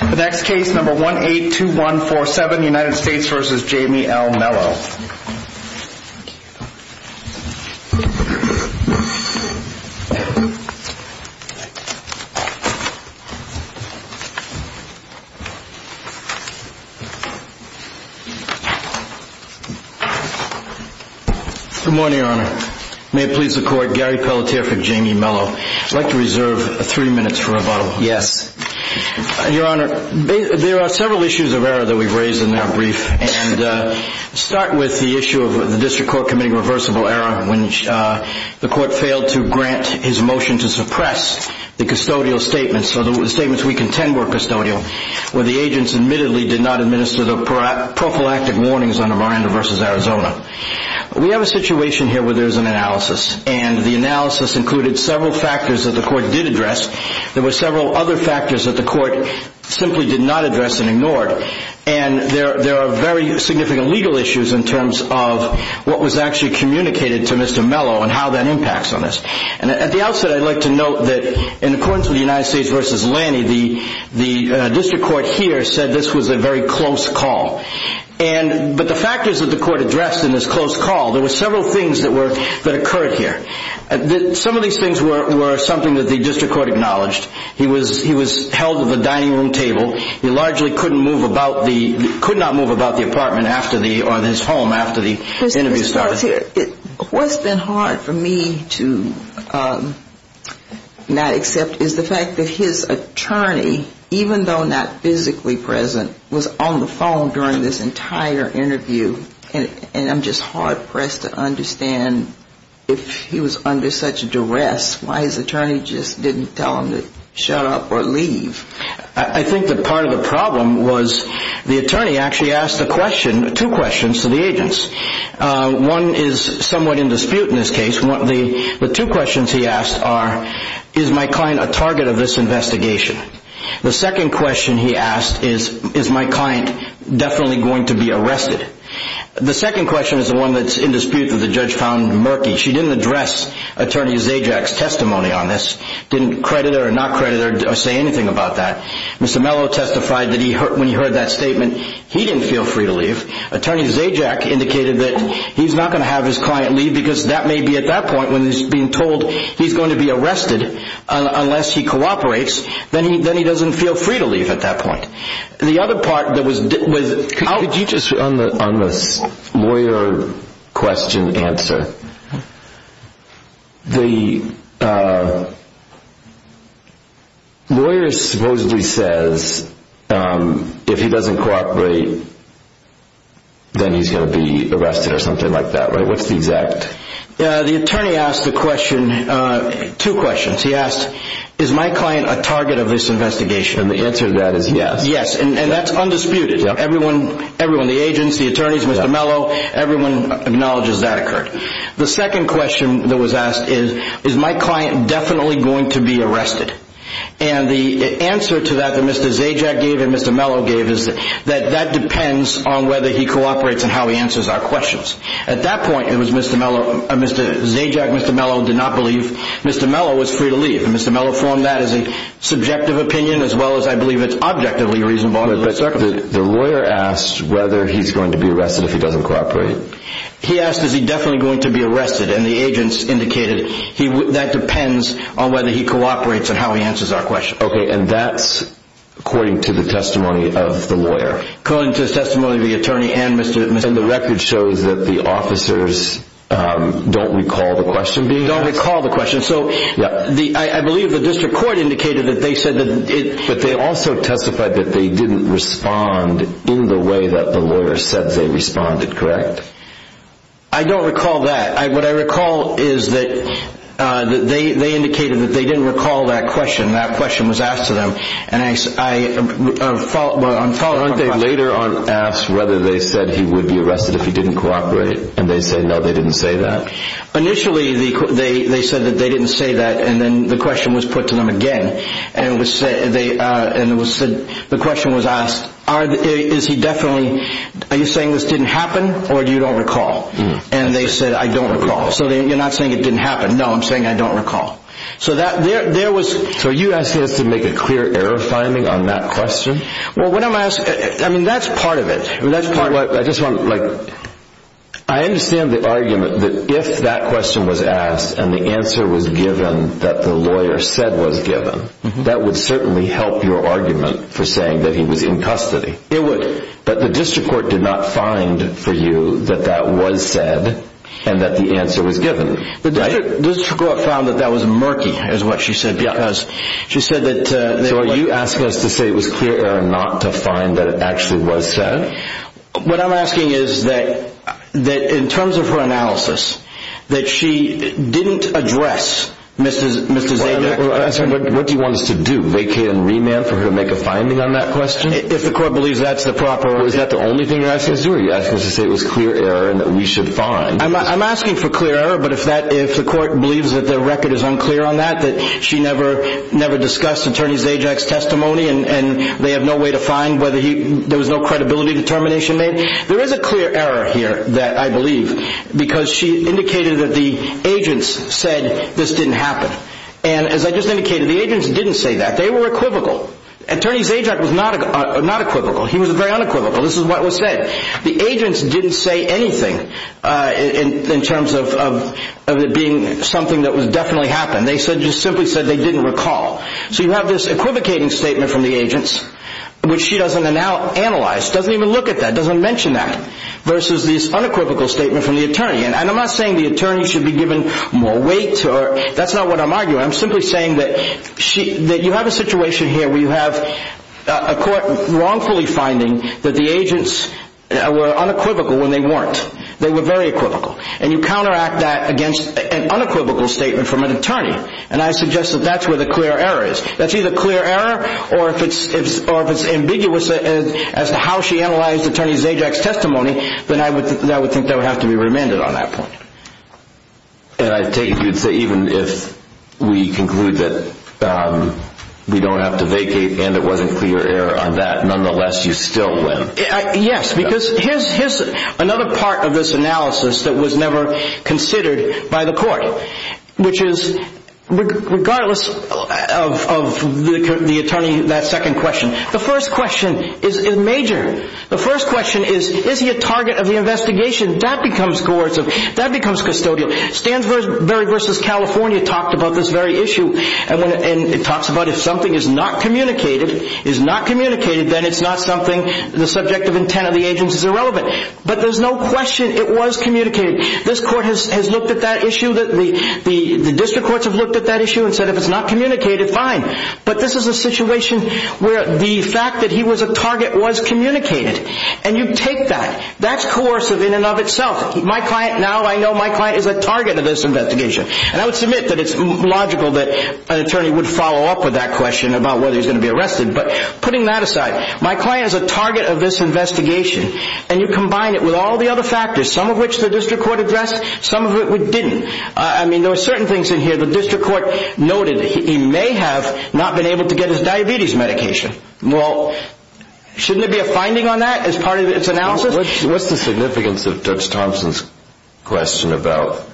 The next case, number 182147, United States v. Jamie L. Melo. Good morning, Your Honor. May it please the Court, Gary Pelletier for Jamie Melo. I'd like to reserve three minutes for rebuttal. Yes. Your Honor, there are several issues of error that we've raised in that brief, and I'll start with the issue of the District Court committing reversible error when the Court failed to grant his motion to suppress the custodial statements, or the statements we contend were custodial, where the agents admittedly did not administer the prophylactic warnings under Miranda v. Arizona. We have a situation here where there's an analysis, and the analysis included several factors that the Court did address. There were several other factors that the Court simply did not address and ignored, and there are very significant legal issues in terms of what was actually communicated to Mr. Melo and how that impacts on this. And at the outset, I'd like to note that in accordance with the United States v. Lanny, the District Court here said this was a very close call. But the factors that the Court addressed in this close call, there were several things that occurred here. Some of these things were something that the District Court acknowledged. He was held at the dining room table. He largely could not move about the apartment or his home after the interview started. What's been hard for me to not accept is the fact that his attorney, even though not physically present, was on the phone during this entire interview, and I'm just hard-pressed to understand if he was under such duress, why his attorney just didn't tell him to shut up or leave. I think that part of the problem was the attorney actually asked two questions to the agents. One is somewhat in dispute in this case. The two questions he asked are, is my client a target of this investigation? The second question he asked is, is my client definitely going to be arrested? The second question is the one that's in dispute that the judge found murky. She didn't address Attorney Zajac's testimony on this, didn't credit her or not credit her or say anything about that. Mr. Mello testified that when he heard that statement, he didn't feel free to leave. Attorney Zajac indicated that he's not going to have his client leave because that may be at that point when he's being told he's going to be arrested unless he cooperates. Then he doesn't feel free to leave at that point. The other part that was out— Could you just, on the lawyer question answer, the lawyer supposedly says if he doesn't cooperate, then he's going to be arrested or something like that, right? What's the exact—? The attorney asked the question, two questions. He asked, is my client a target of this investigation? And the answer to that is yes. Yes, and that's undisputed. Everyone, the agents, the attorneys, Mr. Mello, everyone acknowledges that occurred. The second question that was asked is, is my client definitely going to be arrested? And the answer to that that Mr. Zajac gave and Mr. Mello gave is that that depends on whether he cooperates and how he answers our questions. At that point, it was Mr. Mello—Mr. Zajac, Mr. Mello did not believe Mr. Mello was free to leave, and Mr. Mello formed that as a subjective opinion as well as, I believe, it's objectively reasonable under the circumstances. But the lawyer asked whether he's going to be arrested if he doesn't cooperate. He asked, is he definitely going to be arrested? And the agents indicated that depends on whether he cooperates and how he answers our questions. Okay, and that's according to the testimony of the lawyer. According to the testimony of the attorney and Mr. Mello. And the record shows that the officers don't recall the question being asked? Don't recall the question. So I believe the district court indicated that they said that it— But they also testified that they didn't respond in the way that the lawyer said they responded, correct? I don't recall that. What I recall is that they indicated that they didn't recall that question. That question was asked to them. Aren't they later asked whether they said he would be arrested if he didn't cooperate? And they said, no, they didn't say that? Initially, they said that they didn't say that, and then the question was put to them again. And the question was asked, are you saying this didn't happen or you don't recall? And they said, I don't recall. So you're not saying it didn't happen? No, I'm saying I don't recall. So are you asking us to make a clear error finding on that question? Well, that's part of it. I understand the argument that if that question was asked and the answer was given that the lawyer said was given, that would certainly help your argument for saying that he was in custody. It would. But the district court did not find for you that that was said and that the answer was given, right? The district court found that that was murky, is what she said, because she said that they were – So are you asking us to say it was clear error not to find that it actually was said? What I'm asking is that in terms of her analysis, that she didn't address Mr. Zajac's question. What do you want us to do, vacate and remand for her to make a finding on that question? If the court believes that's the proper – Is that the only thing you're asking us to do, or are you asking us to say it was clear error and that we should find – I'm asking for clear error, but if the court believes that the record is unclear on that, that she never discussed Attorney Zajac's testimony and they have no way to find whether he – there was no credibility determination made. There is a clear error here that I believe, because she indicated that the agents said this didn't happen. And as I just indicated, the agents didn't say that. They were equivocal. Attorney Zajac was not equivocal. He was very unequivocal. This is what was said. The agents didn't say anything in terms of it being something that definitely happened. They simply said they didn't recall. So you have this equivocating statement from the agents, which she doesn't analyze, doesn't even look at that, doesn't mention that, versus this unequivocal statement from the attorney. And I'm not saying the attorney should be given more weight. That's not what I'm arguing. I'm simply saying that you have a situation here where you have a court wrongfully finding that the agents were unequivocal and they weren't. They were very equivocal. And you counteract that against an unequivocal statement from an attorney. And I suggest that that's where the clear error is. That's either clear error or if it's ambiguous as to how she analyzed Attorney Zajac's testimony, then I would think that would have to be remanded on that point. And I take it you'd say even if we conclude that we don't have to vacate and it wasn't clear error on that, nonetheless you still win. Yes, because here's another part of this analysis that was never considered by the court, which is regardless of the attorney, that second question, the first question is major. The first question is, is he a target of the investigation? That becomes coercive. That becomes custodial. Stansbury v. California talked about this very issue. And it talks about if something is not communicated, then it's not something the subject of intent of the agents is irrelevant. But there's no question it was communicated. This court has looked at that issue. The district courts have looked at that issue and said if it's not communicated, fine. But this is a situation where the fact that he was a target was communicated. And you take that. That's coercive in and of itself. Now I know my client is a target of this investigation. And I would submit that it's logical that an attorney would follow up with that question about whether he's going to be arrested. But putting that aside, my client is a target of this investigation. And you combine it with all the other factors, some of which the district court addressed, some of it we didn't. I mean, there were certain things in here the district court noted. He may have not been able to get his diabetes medication. Well, shouldn't there be a finding on that as part of its analysis? What's the significance of Judge Thompson's question about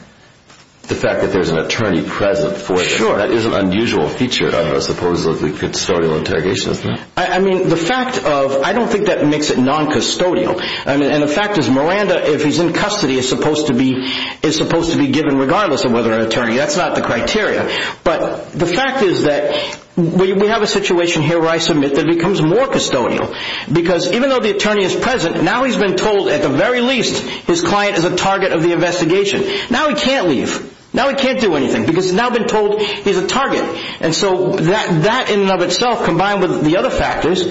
the fact that there's an attorney present for him? That is an unusual feature of a supposedly custodial interrogation, isn't it? I mean, the fact of, I don't think that makes it non-custodial. And the fact is Miranda, if he's in custody, is supposed to be given regardless of whether an attorney. That's not the criteria. But the fact is that we have a situation here where I submit that it becomes more custodial. Because even though the attorney is present, now he's been told at the very least his client is a target of the investigation. Now he can't leave. Now he can't do anything because he's now been told he's a target. And so that in and of itself, combined with the other factors,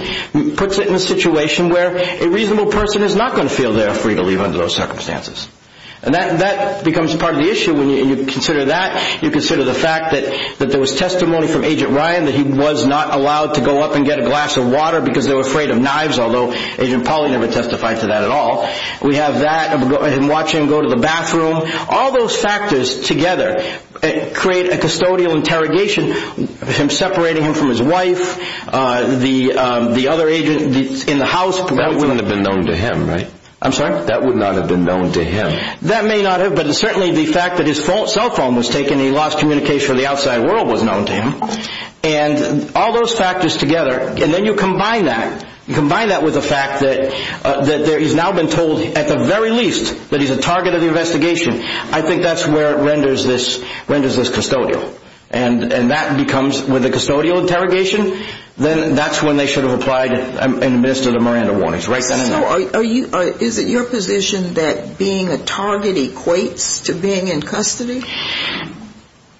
puts it in a situation where a reasonable person is not going to feel they're free to leave under those circumstances. And that becomes part of the issue when you consider that. You consider the fact that there was testimony from Agent Ryan that he was not allowed to go up and get a glass of water because they were afraid of knives. Although Agent Polly never testified to that at all. We have that, him watching him go to the bathroom. All those factors together create a custodial interrogation, him separating him from his wife, the other agent in the house. That would not have been known to him, right? I'm sorry? That would not have been known to him. That may not have, but certainly the fact that his cell phone was taken and he lost communication with the outside world was known to him. And all those factors together, and then you combine that, you combine that with the fact that he's now been told at the very least that he's a target of the investigation. I think that's where it renders this custodial. And that becomes, with the custodial interrogation, then that's when they should have applied in the midst of the Miranda warnings. So is it your position that being a target equates to being in custody?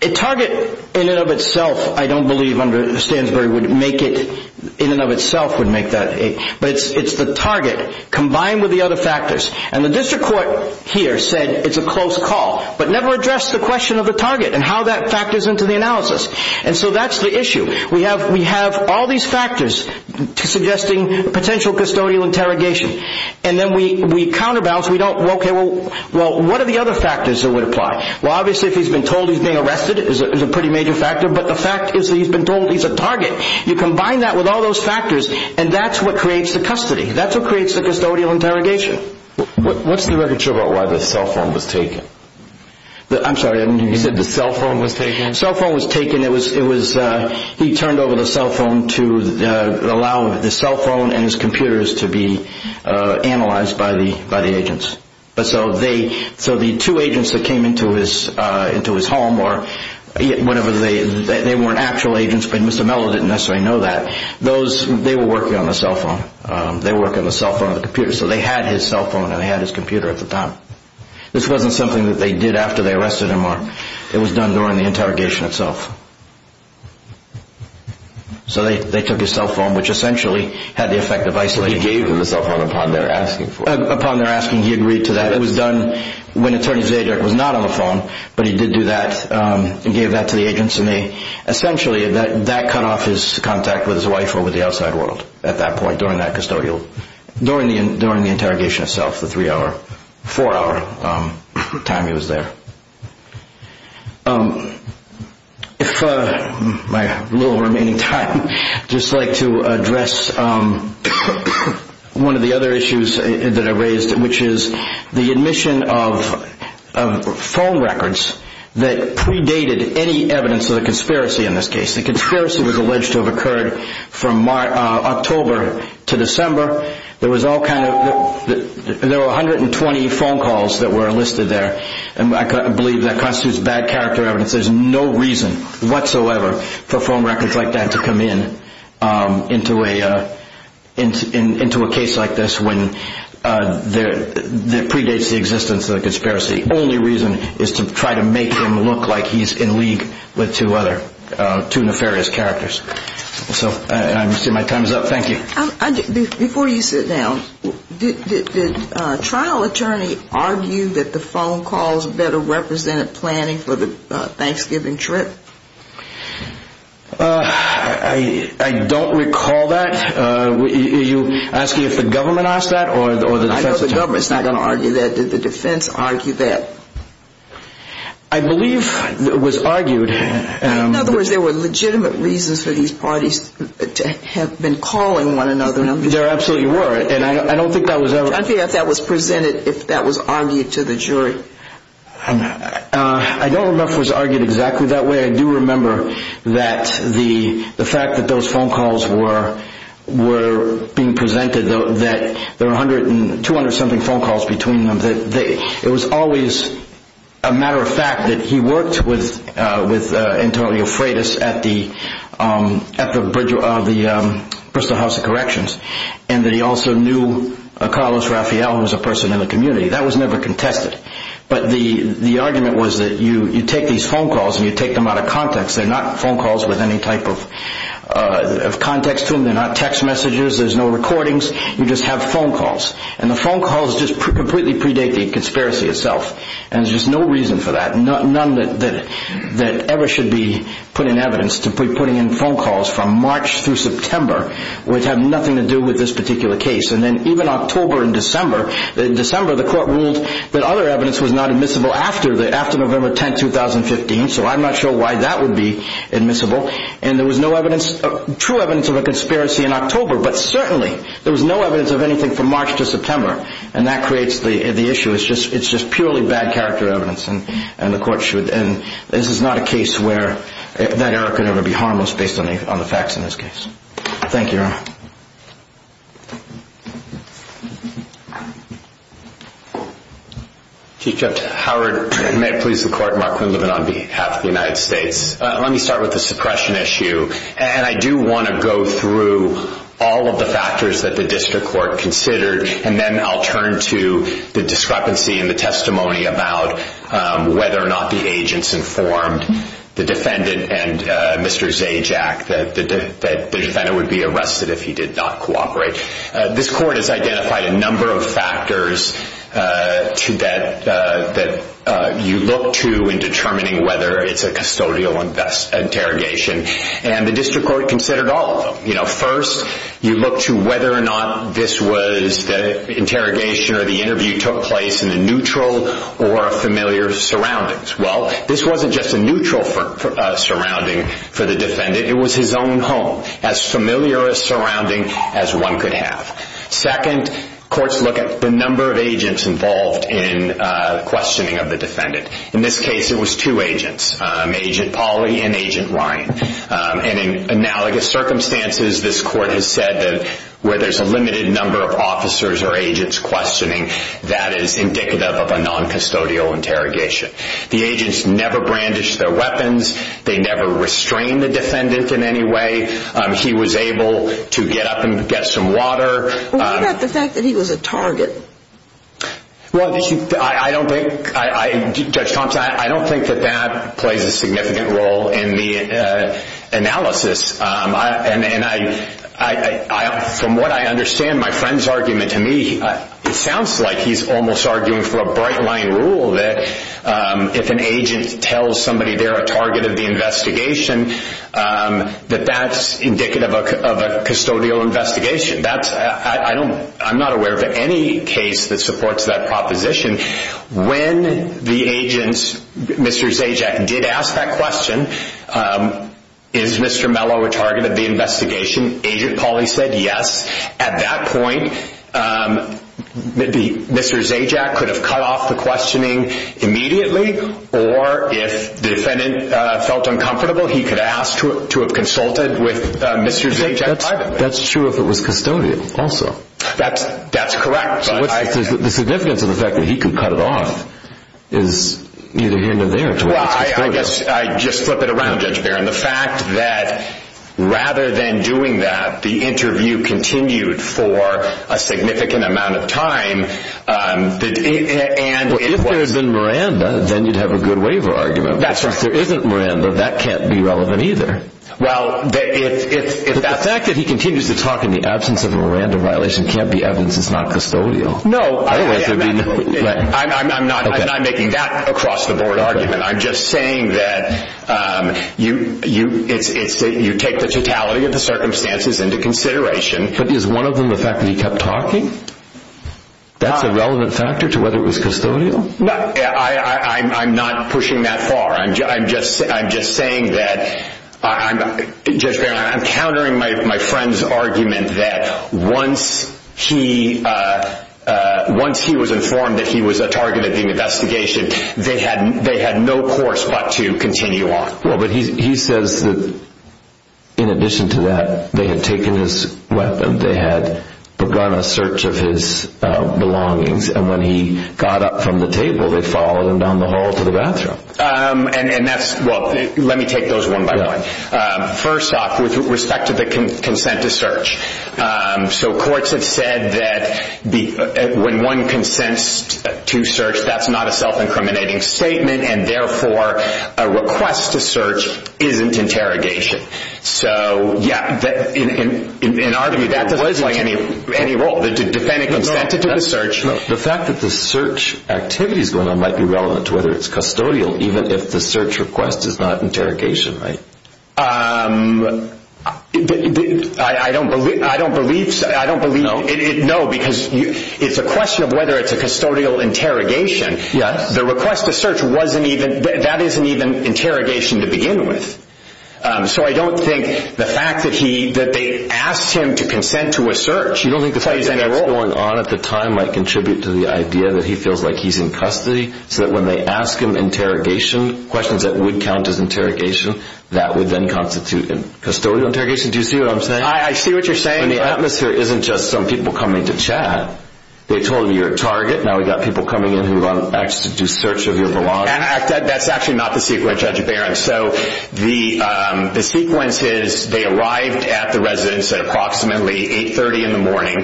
A target in and of itself, I don't believe under Stansbury would make it, in and of itself would make that. But it's the target combined with the other factors. And the district court here said it's a close call, but never addressed the question of the target and how that factors into the analysis. And so that's the issue. We have all these factors suggesting potential custodial interrogation. And then we counterbalance. Okay, well, what are the other factors that would apply? Well, obviously if he's been told he's being arrested, it's a pretty major factor. But the fact is that he's been told he's a target. You combine that with all those factors, and that's what creates the custody. That's what creates the custodial interrogation. What's the record show about why the cell phone was taken? I'm sorry, you said the cell phone was taken? The cell phone was taken. He turned over the cell phone to allow the cell phone and his computers to be analyzed by the agents. So the two agents that came into his home or whatever, they weren't actual agents, but Mr. Mello didn't necessarily know that. They were working on the cell phone. They were working on the cell phone and the computer. So they had his cell phone and they had his computer at the time. This wasn't something that they did after they arrested him. It was done during the interrogation itself. So they took his cell phone, which essentially had the effect of isolating him. So he gave them the cell phone upon their asking for it? Upon their asking, he agreed to that. It was done when Attorney Zajac was not on the phone, but he did do that. He gave that to the agents, and essentially that cut off his contact with his wife or with the outside world at that point, during that custodial. During the interrogation itself, the three hour, four hour time he was there. If my little remaining time, I'd just like to address one of the other issues that I raised, which is the admission of phone records that predated any evidence of the conspiracy in this case. The conspiracy was alleged to have occurred from October to December. There were 120 phone calls that were enlisted there. I believe that constitutes bad character evidence. There's no reason whatsoever for phone records like that to come in, into a case like this when it predates the existence of the conspiracy. The only reason is to try to make him look like he's in league with two other, two nefarious characters. I see my time's up. Thank you. Before you sit down, did the trial attorney argue that the phone calls better represent planning for the Thanksgiving trip? I don't recall that. Are you asking if the government asked that or the defense attorney? I know the government's not going to argue that. Did the defense argue that? I believe it was argued. In other words, there were legitimate reasons for these parties to have been calling one another. There absolutely were. I don't think that was presented, if that was argued to the jury. I don't remember if it was argued exactly that way. I do remember that the fact that those phone calls were being presented, that there were 200-something phone calls between them, it was always a matter of fact that he worked with Antonio Freitas at the Bristol House of Corrections and that he also knew Carlos Rafael, who was a person in the community. That was never contested. But the argument was that you take these phone calls and you take them out of context. They're not phone calls with any type of context to them. They're not text messages. There's no recordings. You just have phone calls. The phone calls just completely predate the conspiracy itself. There's just no reason for that. None that ever should be put in evidence to putting in phone calls from March through September, which have nothing to do with this particular case. Even October and December, the court ruled that other evidence was not admissible after November 10, 2015, so I'm not sure why that would be admissible. And there was no true evidence of a conspiracy in October, but certainly there was no evidence of anything from March to September, and that creates the issue. It's just purely bad character evidence, and the court should, and this is not a case where that error could ever be harmless based on the facts in this case. Thank you, Your Honor. Chief Judge Howard, may it please the Court, Mark Quinlivan on behalf of the United States. Let me start with the suppression issue, and I do want to go through all of the factors that the district court considered, and then I'll turn to the discrepancy in the testimony about whether or not the agents informed the defendant and Mr. Zajac that the defendant would be arrested if he did not cooperate. This court has identified a number of factors that you look to in determining whether it's a custodial interrogation, and the district court considered all of them. First, you look to whether or not the interrogation or the interview took place in a neutral or a familiar surroundings. Well, this wasn't just a neutral surrounding for the defendant. It was his own home, as familiar a surrounding as one could have. Second, courts look at the number of agents involved in questioning of the defendant. In this case, it was two agents, Agent Polly and Agent Ryan, and in analogous circumstances, this court has said that where there's a limited number of officers or agents questioning, that is indicative of a non-custodial interrogation. The agents never brandished their weapons. They never restrained the defendant in any way. He was able to get up and get some water. What about the fact that he was a target? Well, Judge Thompson, I don't think that that plays a significant role in the analysis. From what I understand, my friend's argument to me, it sounds like he's almost arguing for a bright-line rule that if an agent tells somebody they're a target of the investigation, that that's indicative of a custodial investigation. I'm not aware of any case that supports that proposition. When the agent, Mr. Zajac, did ask that question, is Mr. Mello a target of the investigation, Agent Polly said yes. At that point, Mr. Zajac could have cut off the questioning immediately, or if the defendant felt uncomfortable, he could have asked to have consulted with Mr. Zajac privately. That's true if it was custodial also. That's correct. The significance of the fact that he could cut it off is neither here nor there. I guess I'd just flip it around, Judge Barron. The fact that rather than doing that, the interview continued for a significant amount of time. If there had been Miranda, then you'd have a good waiver argument. If there isn't Miranda, that can't be relevant either. The fact that he continues to talk in the absence of a Miranda violation can't be evidence it's not custodial. No, I'm not making that across-the-board argument. I'm just saying that you take the totality of the circumstances into consideration. But is one of them the fact that he kept talking? That's a relevant factor to whether it was custodial? I'm not pushing that far. I'm just saying that, Judge Barron, I'm countering my friend's argument that once he was informed that he was a target of the investigation, they had no course but to continue on. He says that in addition to that, they had taken his weapon. They had begun a search of his belongings. When he got up from the table, they followed him down the hall to the bathroom. Let me take those one by one. First off, with respect to the consent to search, courts have said that when one consents to search, that's not a self-incriminating statement, and therefore a request to search isn't interrogation. In our view, that doesn't play any role. The defendant consented to the search. The fact that the search activity is going on might be relevant to whether it's custodial, even if the search request is not interrogation, right? I don't believe so. No. No, because it's a question of whether it's a custodial interrogation. Yes. The request to search, that isn't even interrogation to begin with. So I don't think the fact that they asked him to consent to a search plays any role. You don't think the fact that that's going on at the time might contribute to the idea that he feels like he's in custody, so that when they ask him interrogation, questions that would count as interrogation, that would then constitute custodial interrogation? Do you see what I'm saying? I see what you're saying. The atmosphere isn't just some people coming to chat. They told him you're a target. Now we've got people coming in who want to actually do search of your belongings. That's actually not the sequence, Judge Barron. So the sequence is they arrived at the residence at approximately 8.30 in the morning.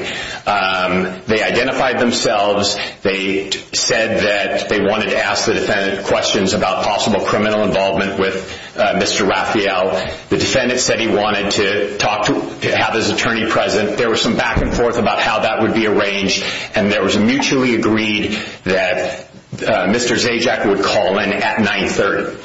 They identified themselves. They said that they wanted to ask the defendant questions about possible criminal involvement with Mr. Raphael. The defendant said he wanted to have his attorney present. There was some back and forth about how that would be arranged, and there was a mutually agreed that Mr. Zajac would call in at 9.30.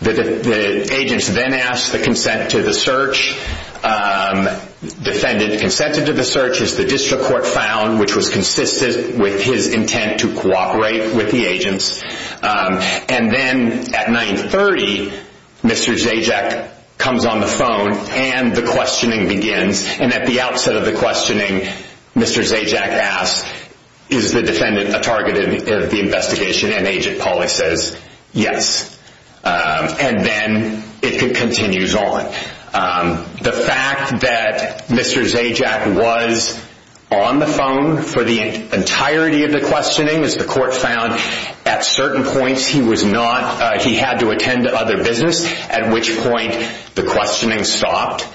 The agents then asked to consent to the search. The defendant consented to the search, as the district court found, which was consistent with his intent to cooperate with the agents. And then at 9.30, Mr. Zajac comes on the phone, and the questioning begins. And at the outset of the questioning, Mr. Zajac asks, is the defendant a target of the investigation? And Agent Pauly says, yes. And then it continues on. The fact that Mr. Zajac was on the phone for the entirety of the questioning, as the court found, at certain points he had to attend to other business, at which point the questioning stopped.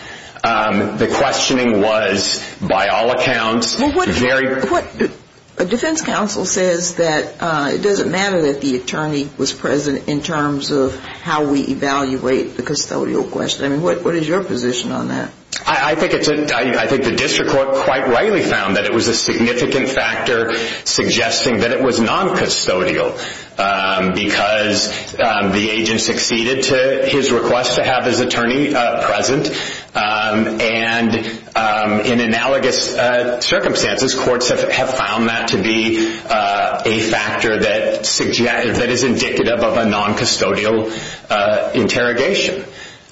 The questioning was, by all accounts, very— A defense counsel says that it doesn't matter that the attorney was present in terms of how we evaluate the custodial question. What is your position on that? I think the district court quite rightly found that it was a significant factor suggesting that it was non-custodial, because the agent succeeded to his request to have his attorney present. And in analogous circumstances, courts have found that to be a factor that is indicative of a non-custodial interrogation.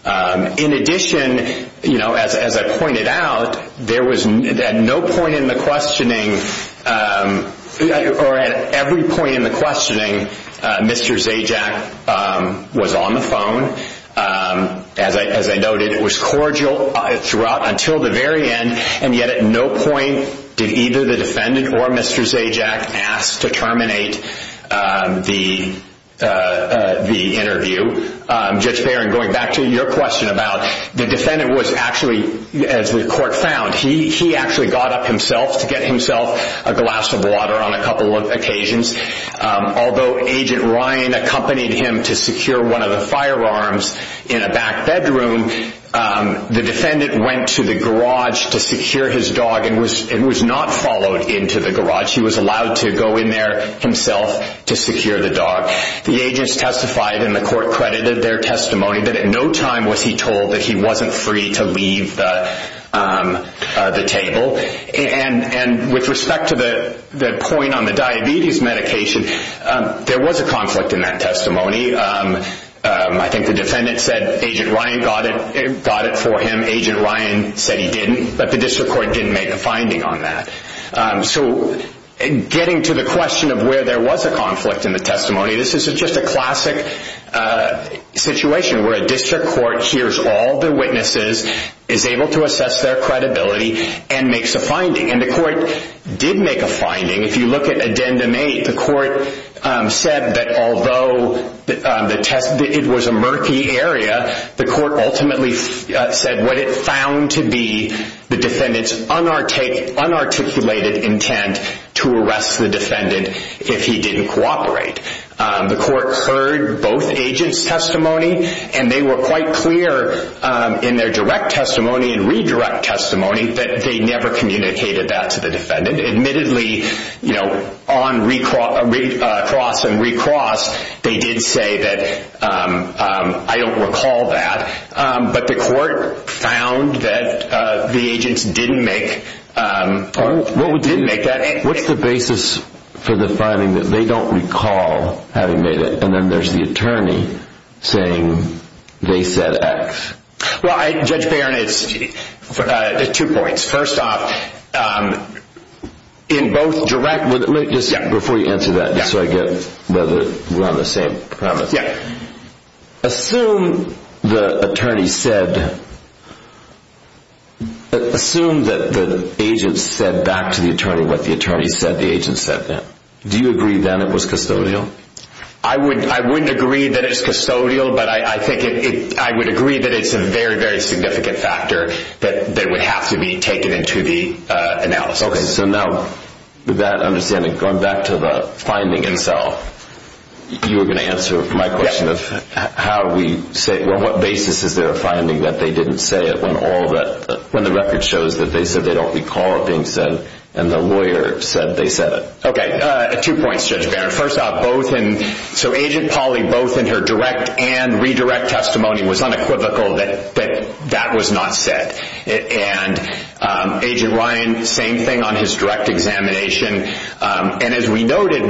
In addition, as I pointed out, at no point in the questioning, or at every point in the questioning, Mr. Zajac was on the phone. As I noted, it was cordial until the very end, and yet at no point did either the defendant or Mr. Zajac ask to terminate the interview. Judge Barron, going back to your question about— The defendant was actually, as the court found, he actually got up himself to get himself a glass of water on a couple of occasions. Although Agent Ryan accompanied him to secure one of the firearms in a back bedroom, the defendant went to the garage to secure his dog and was not followed into the garage. He was allowed to go in there himself to secure the dog. The agents testified, and the court credited their testimony, that at no time was he told that he wasn't free to leave the table. With respect to the point on the diabetes medication, there was a conflict in that testimony. I think the defendant said Agent Ryan got it for him. Agent Ryan said he didn't, but the district court didn't make a finding on that. Getting to the question of where there was a conflict in the testimony, this is just a classic situation where a district court hears all the witnesses, is able to assess their credibility, and makes a finding. The court did make a finding. If you look at Addendum 8, the court said that although it was a murky area, the court ultimately said what it found to be the defendant's unarticulated intent to arrest the defendant if he didn't cooperate. The court heard both agents' testimony, and they were quite clear in their direct testimony and redirect testimony that they never communicated that to the defendant. Admittedly, on cross and recross, they did say that, I don't recall that, but the court found that the agents didn't make that. What's the basis for the finding that they don't recall having made it? And then there's the attorney saying they said X. Judge Barron, it's two points. First off, in both direct, before you answer that, just so I get whether we're on the same premise. Assume the attorney said, assume that the agent said back to the attorney what the attorney said the agent said then. Do you agree then it was custodial? I wouldn't agree that it's custodial, but I think I would agree that it's a very, very significant factor that would have to be taken into the analysis. Okay. So now, with that understanding, going back to the finding itself, you were going to answer my question of how we say, well, what basis is there of finding that they didn't say it when all that, when the record shows that they said they don't recall it being said and the lawyer said they said it? Okay. Two points, Judge Barron. First off, both in, so Agent Pauly, both in her direct and redirect testimony was unequivocal that that was not said. And Agent Ryan, same thing on his direct examination. And as we noted,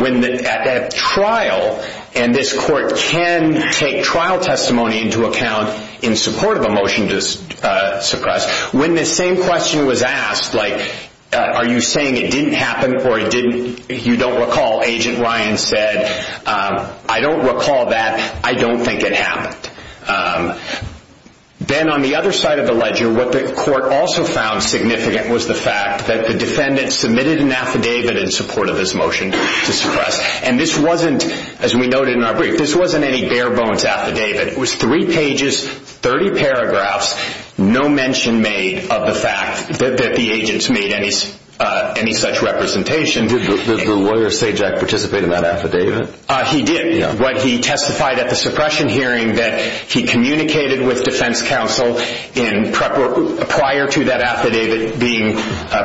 at trial, and this court can take trial testimony into account in support of a motion to suppress, when the same question was asked, like, are you saying it didn't happen or you don't recall Agent Ryan said, I don't recall that, I don't think it happened. Then on the other side of the ledger, what the court also found significant was the fact that the defendant submitted an affidavit in support of this motion to suppress. And this wasn't, as we noted in our brief, this wasn't any bare bones affidavit. It was three pages, 30 paragraphs, no mention made of the fact that the agents made any such representation. Did the lawyer, Sajak, participate in that affidavit? He did. What he testified at the suppression hearing, that he communicated with defense counsel prior to that affidavit being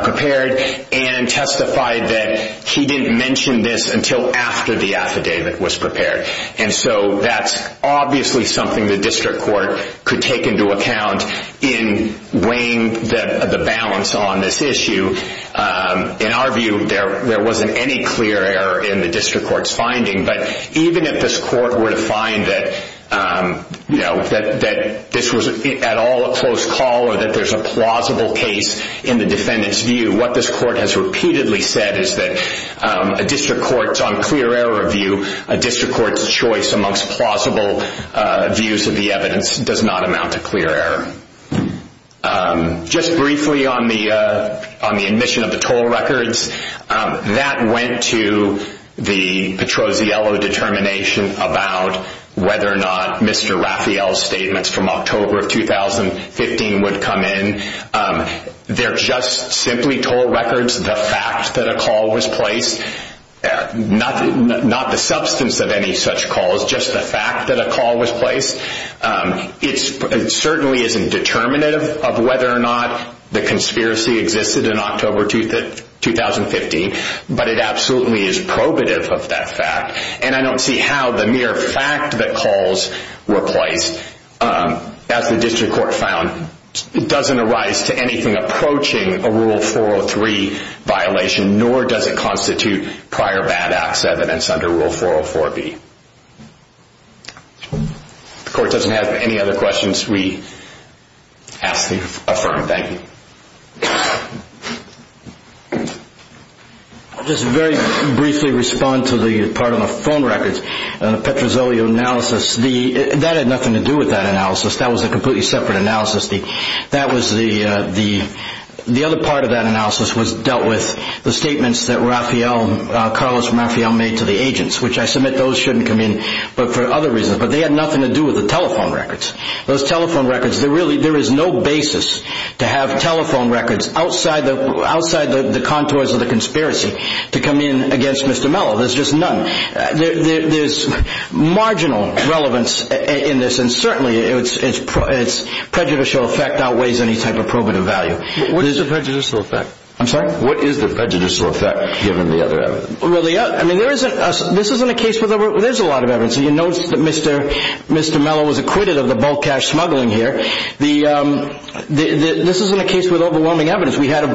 prepared and testified that he didn't mention this until after the affidavit was prepared. And so that's obviously something the district court could take into account in weighing the balance on this issue. In our view, there wasn't any clear error in the district court's finding, but even if this court were to find that this was at all a close call or that there's a plausible case in the defendant's view, what this court has repeatedly said is that a district court's on clear error view, a district court's choice amongst plausible views of the evidence does not amount to clear error. Just briefly on the admission of the toll records, that went to the Petroziello determination about whether or not Mr. Raphael's statements from October of 2015 would come in. They're just simply toll records. The fact that a call was placed, not the substance of any such calls, just the fact that a call was placed, it certainly isn't determinative of whether or not the conspiracy existed in October 2015, but it absolutely is probative of that fact. And I don't see how the mere fact that calls were placed, as the district court found, doesn't arise to anything approaching a Rule 403 violation, nor does it constitute prior bad acts evidence under Rule 404B. If the court doesn't have any other questions, we ask that you affirm. Thank you. I'll just very briefly respond to the part on the phone records. The Petroziello analysis, that had nothing to do with that analysis. That was a completely separate analysis. The other part of that analysis was dealt with, the statements that Carlos Raphael made to the agents, which I submit those shouldn't come in for other reasons, but they had nothing to do with the telephone records. Those telephone records, there is no basis to have telephone records outside the contours of the conspiracy to come in against Mr. Mello. There's just none. There's marginal relevance in this, and certainly its prejudicial effect outweighs any type of probative value. What is the prejudicial effect? I'm sorry? What is the prejudicial effect, given the other evidence? Well, there's a lot of evidence. You notice that Mr. Mello was acquitted of the bulk cash smuggling here. This isn't a case with overwhelming evidence. We had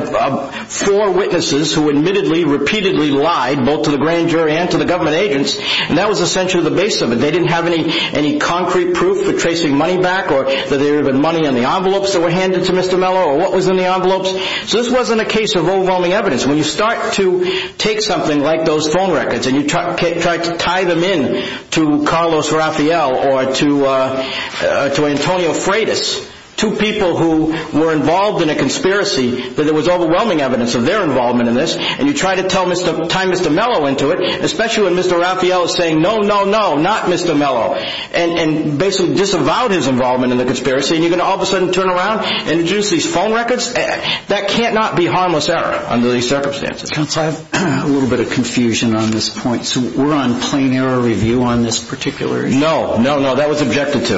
four witnesses who admittedly, repeatedly lied, both to the grand jury and to the government agents, and that was essentially the base of it. They didn't have any concrete proof for tracing money back, or that there had been money in the envelopes that were handed to Mr. Mello, or what was in the envelopes. So this wasn't a case of overwhelming evidence. When you start to take something like those phone records, and you try to tie them in to Carlos Raphael or to Antonio Freitas, two people who were involved in a conspiracy, that there was overwhelming evidence of their involvement in this, and you try to tie Mr. Mello into it, especially when Mr. Raphael is saying, no, no, no, not Mr. Mello, and basically disavowed his involvement in the conspiracy, and you're going to all of a sudden turn around and introduce these phone records? That cannot be harmless error under these circumstances. Counsel, I have a little bit of confusion on this point. So we're on plain error review on this particular issue? No, no, no. That was objected to.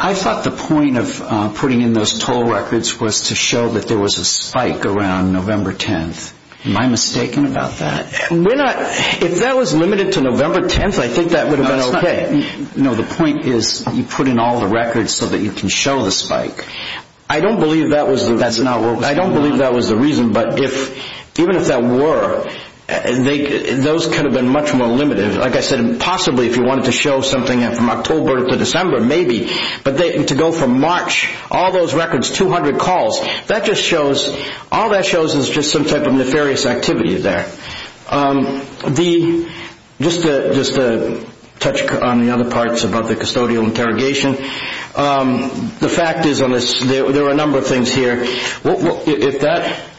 I thought the point of putting in those toll records was to show that there was a spike around November 10th. Am I mistaken about that? If that was limited to November 10th, I think that would have been okay. No, the point is you put in all the records so that you can show the spike. I don't believe that was the reason, but even if that were, those could have been much more limited. Like I said, possibly if you wanted to show something from October to December, maybe. But to go from March, all those records, 200 calls, all that shows is just some type of nefarious activity there. Just to touch on the other parts about the custodial interrogation, the fact is there are a number of things here.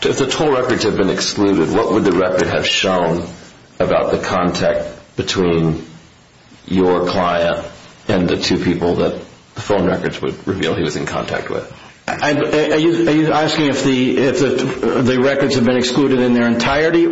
If the toll records had been excluded, what would the record have shown about the contact between your client and the two people that the phone records would reveal he was in contact with? Are you asking if the records had been excluded in their entirety?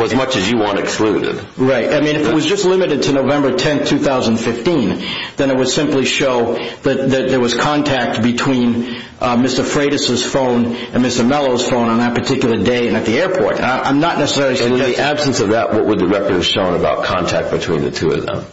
As much as you want excluded. Right. If it was just limited to November 10th, 2015, then it would simply show that there was contact between Mr. Freitas' phone and Mr. Mello's phone on that particular day and at the airport. I'm not necessarily suggesting that. In the absence of that, what would the record have shown about contact between the two of them?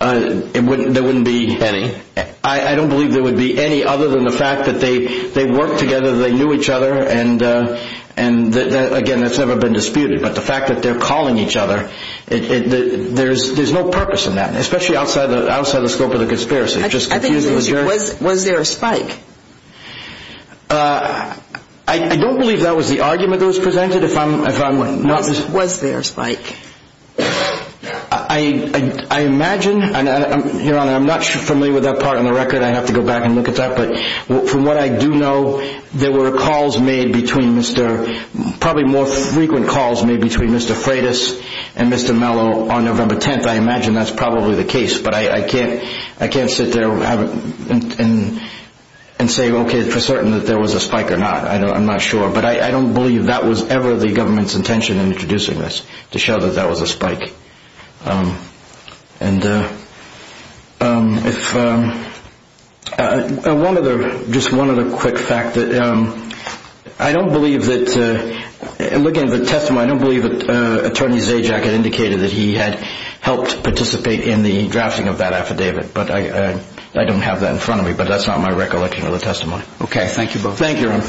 There wouldn't be any. I don't believe there would be any other than the fact that they worked together, they knew each other, and again, that's never been disputed. But the fact that they're calling each other, there's no purpose in that, especially outside the scope of the conspiracy. Was there a spike? I don't believe that was the argument that was presented. Was there a spike? I imagine, Your Honor, I'm not familiar with that part on the record. I'd have to go back and look at that. But from what I do know, there were calls made between Mr. probably more frequent calls made between Mr. Freitas and Mr. Mello on November 10th. I imagine that's probably the case, but I can't sit there and say, okay, for certain that there was a spike or not. I'm not sure. But I don't believe that was ever the government's intention in introducing this, to show that that was a spike. Just one other quick fact. I don't believe that, looking at the testimony, I don't believe that Attorney Zajac had indicated that he had helped participate in the drafting of that affidavit. But I don't have that in front of me. But that's not my recollection of the testimony. Okay, thank you both. Thank you, Your Honor.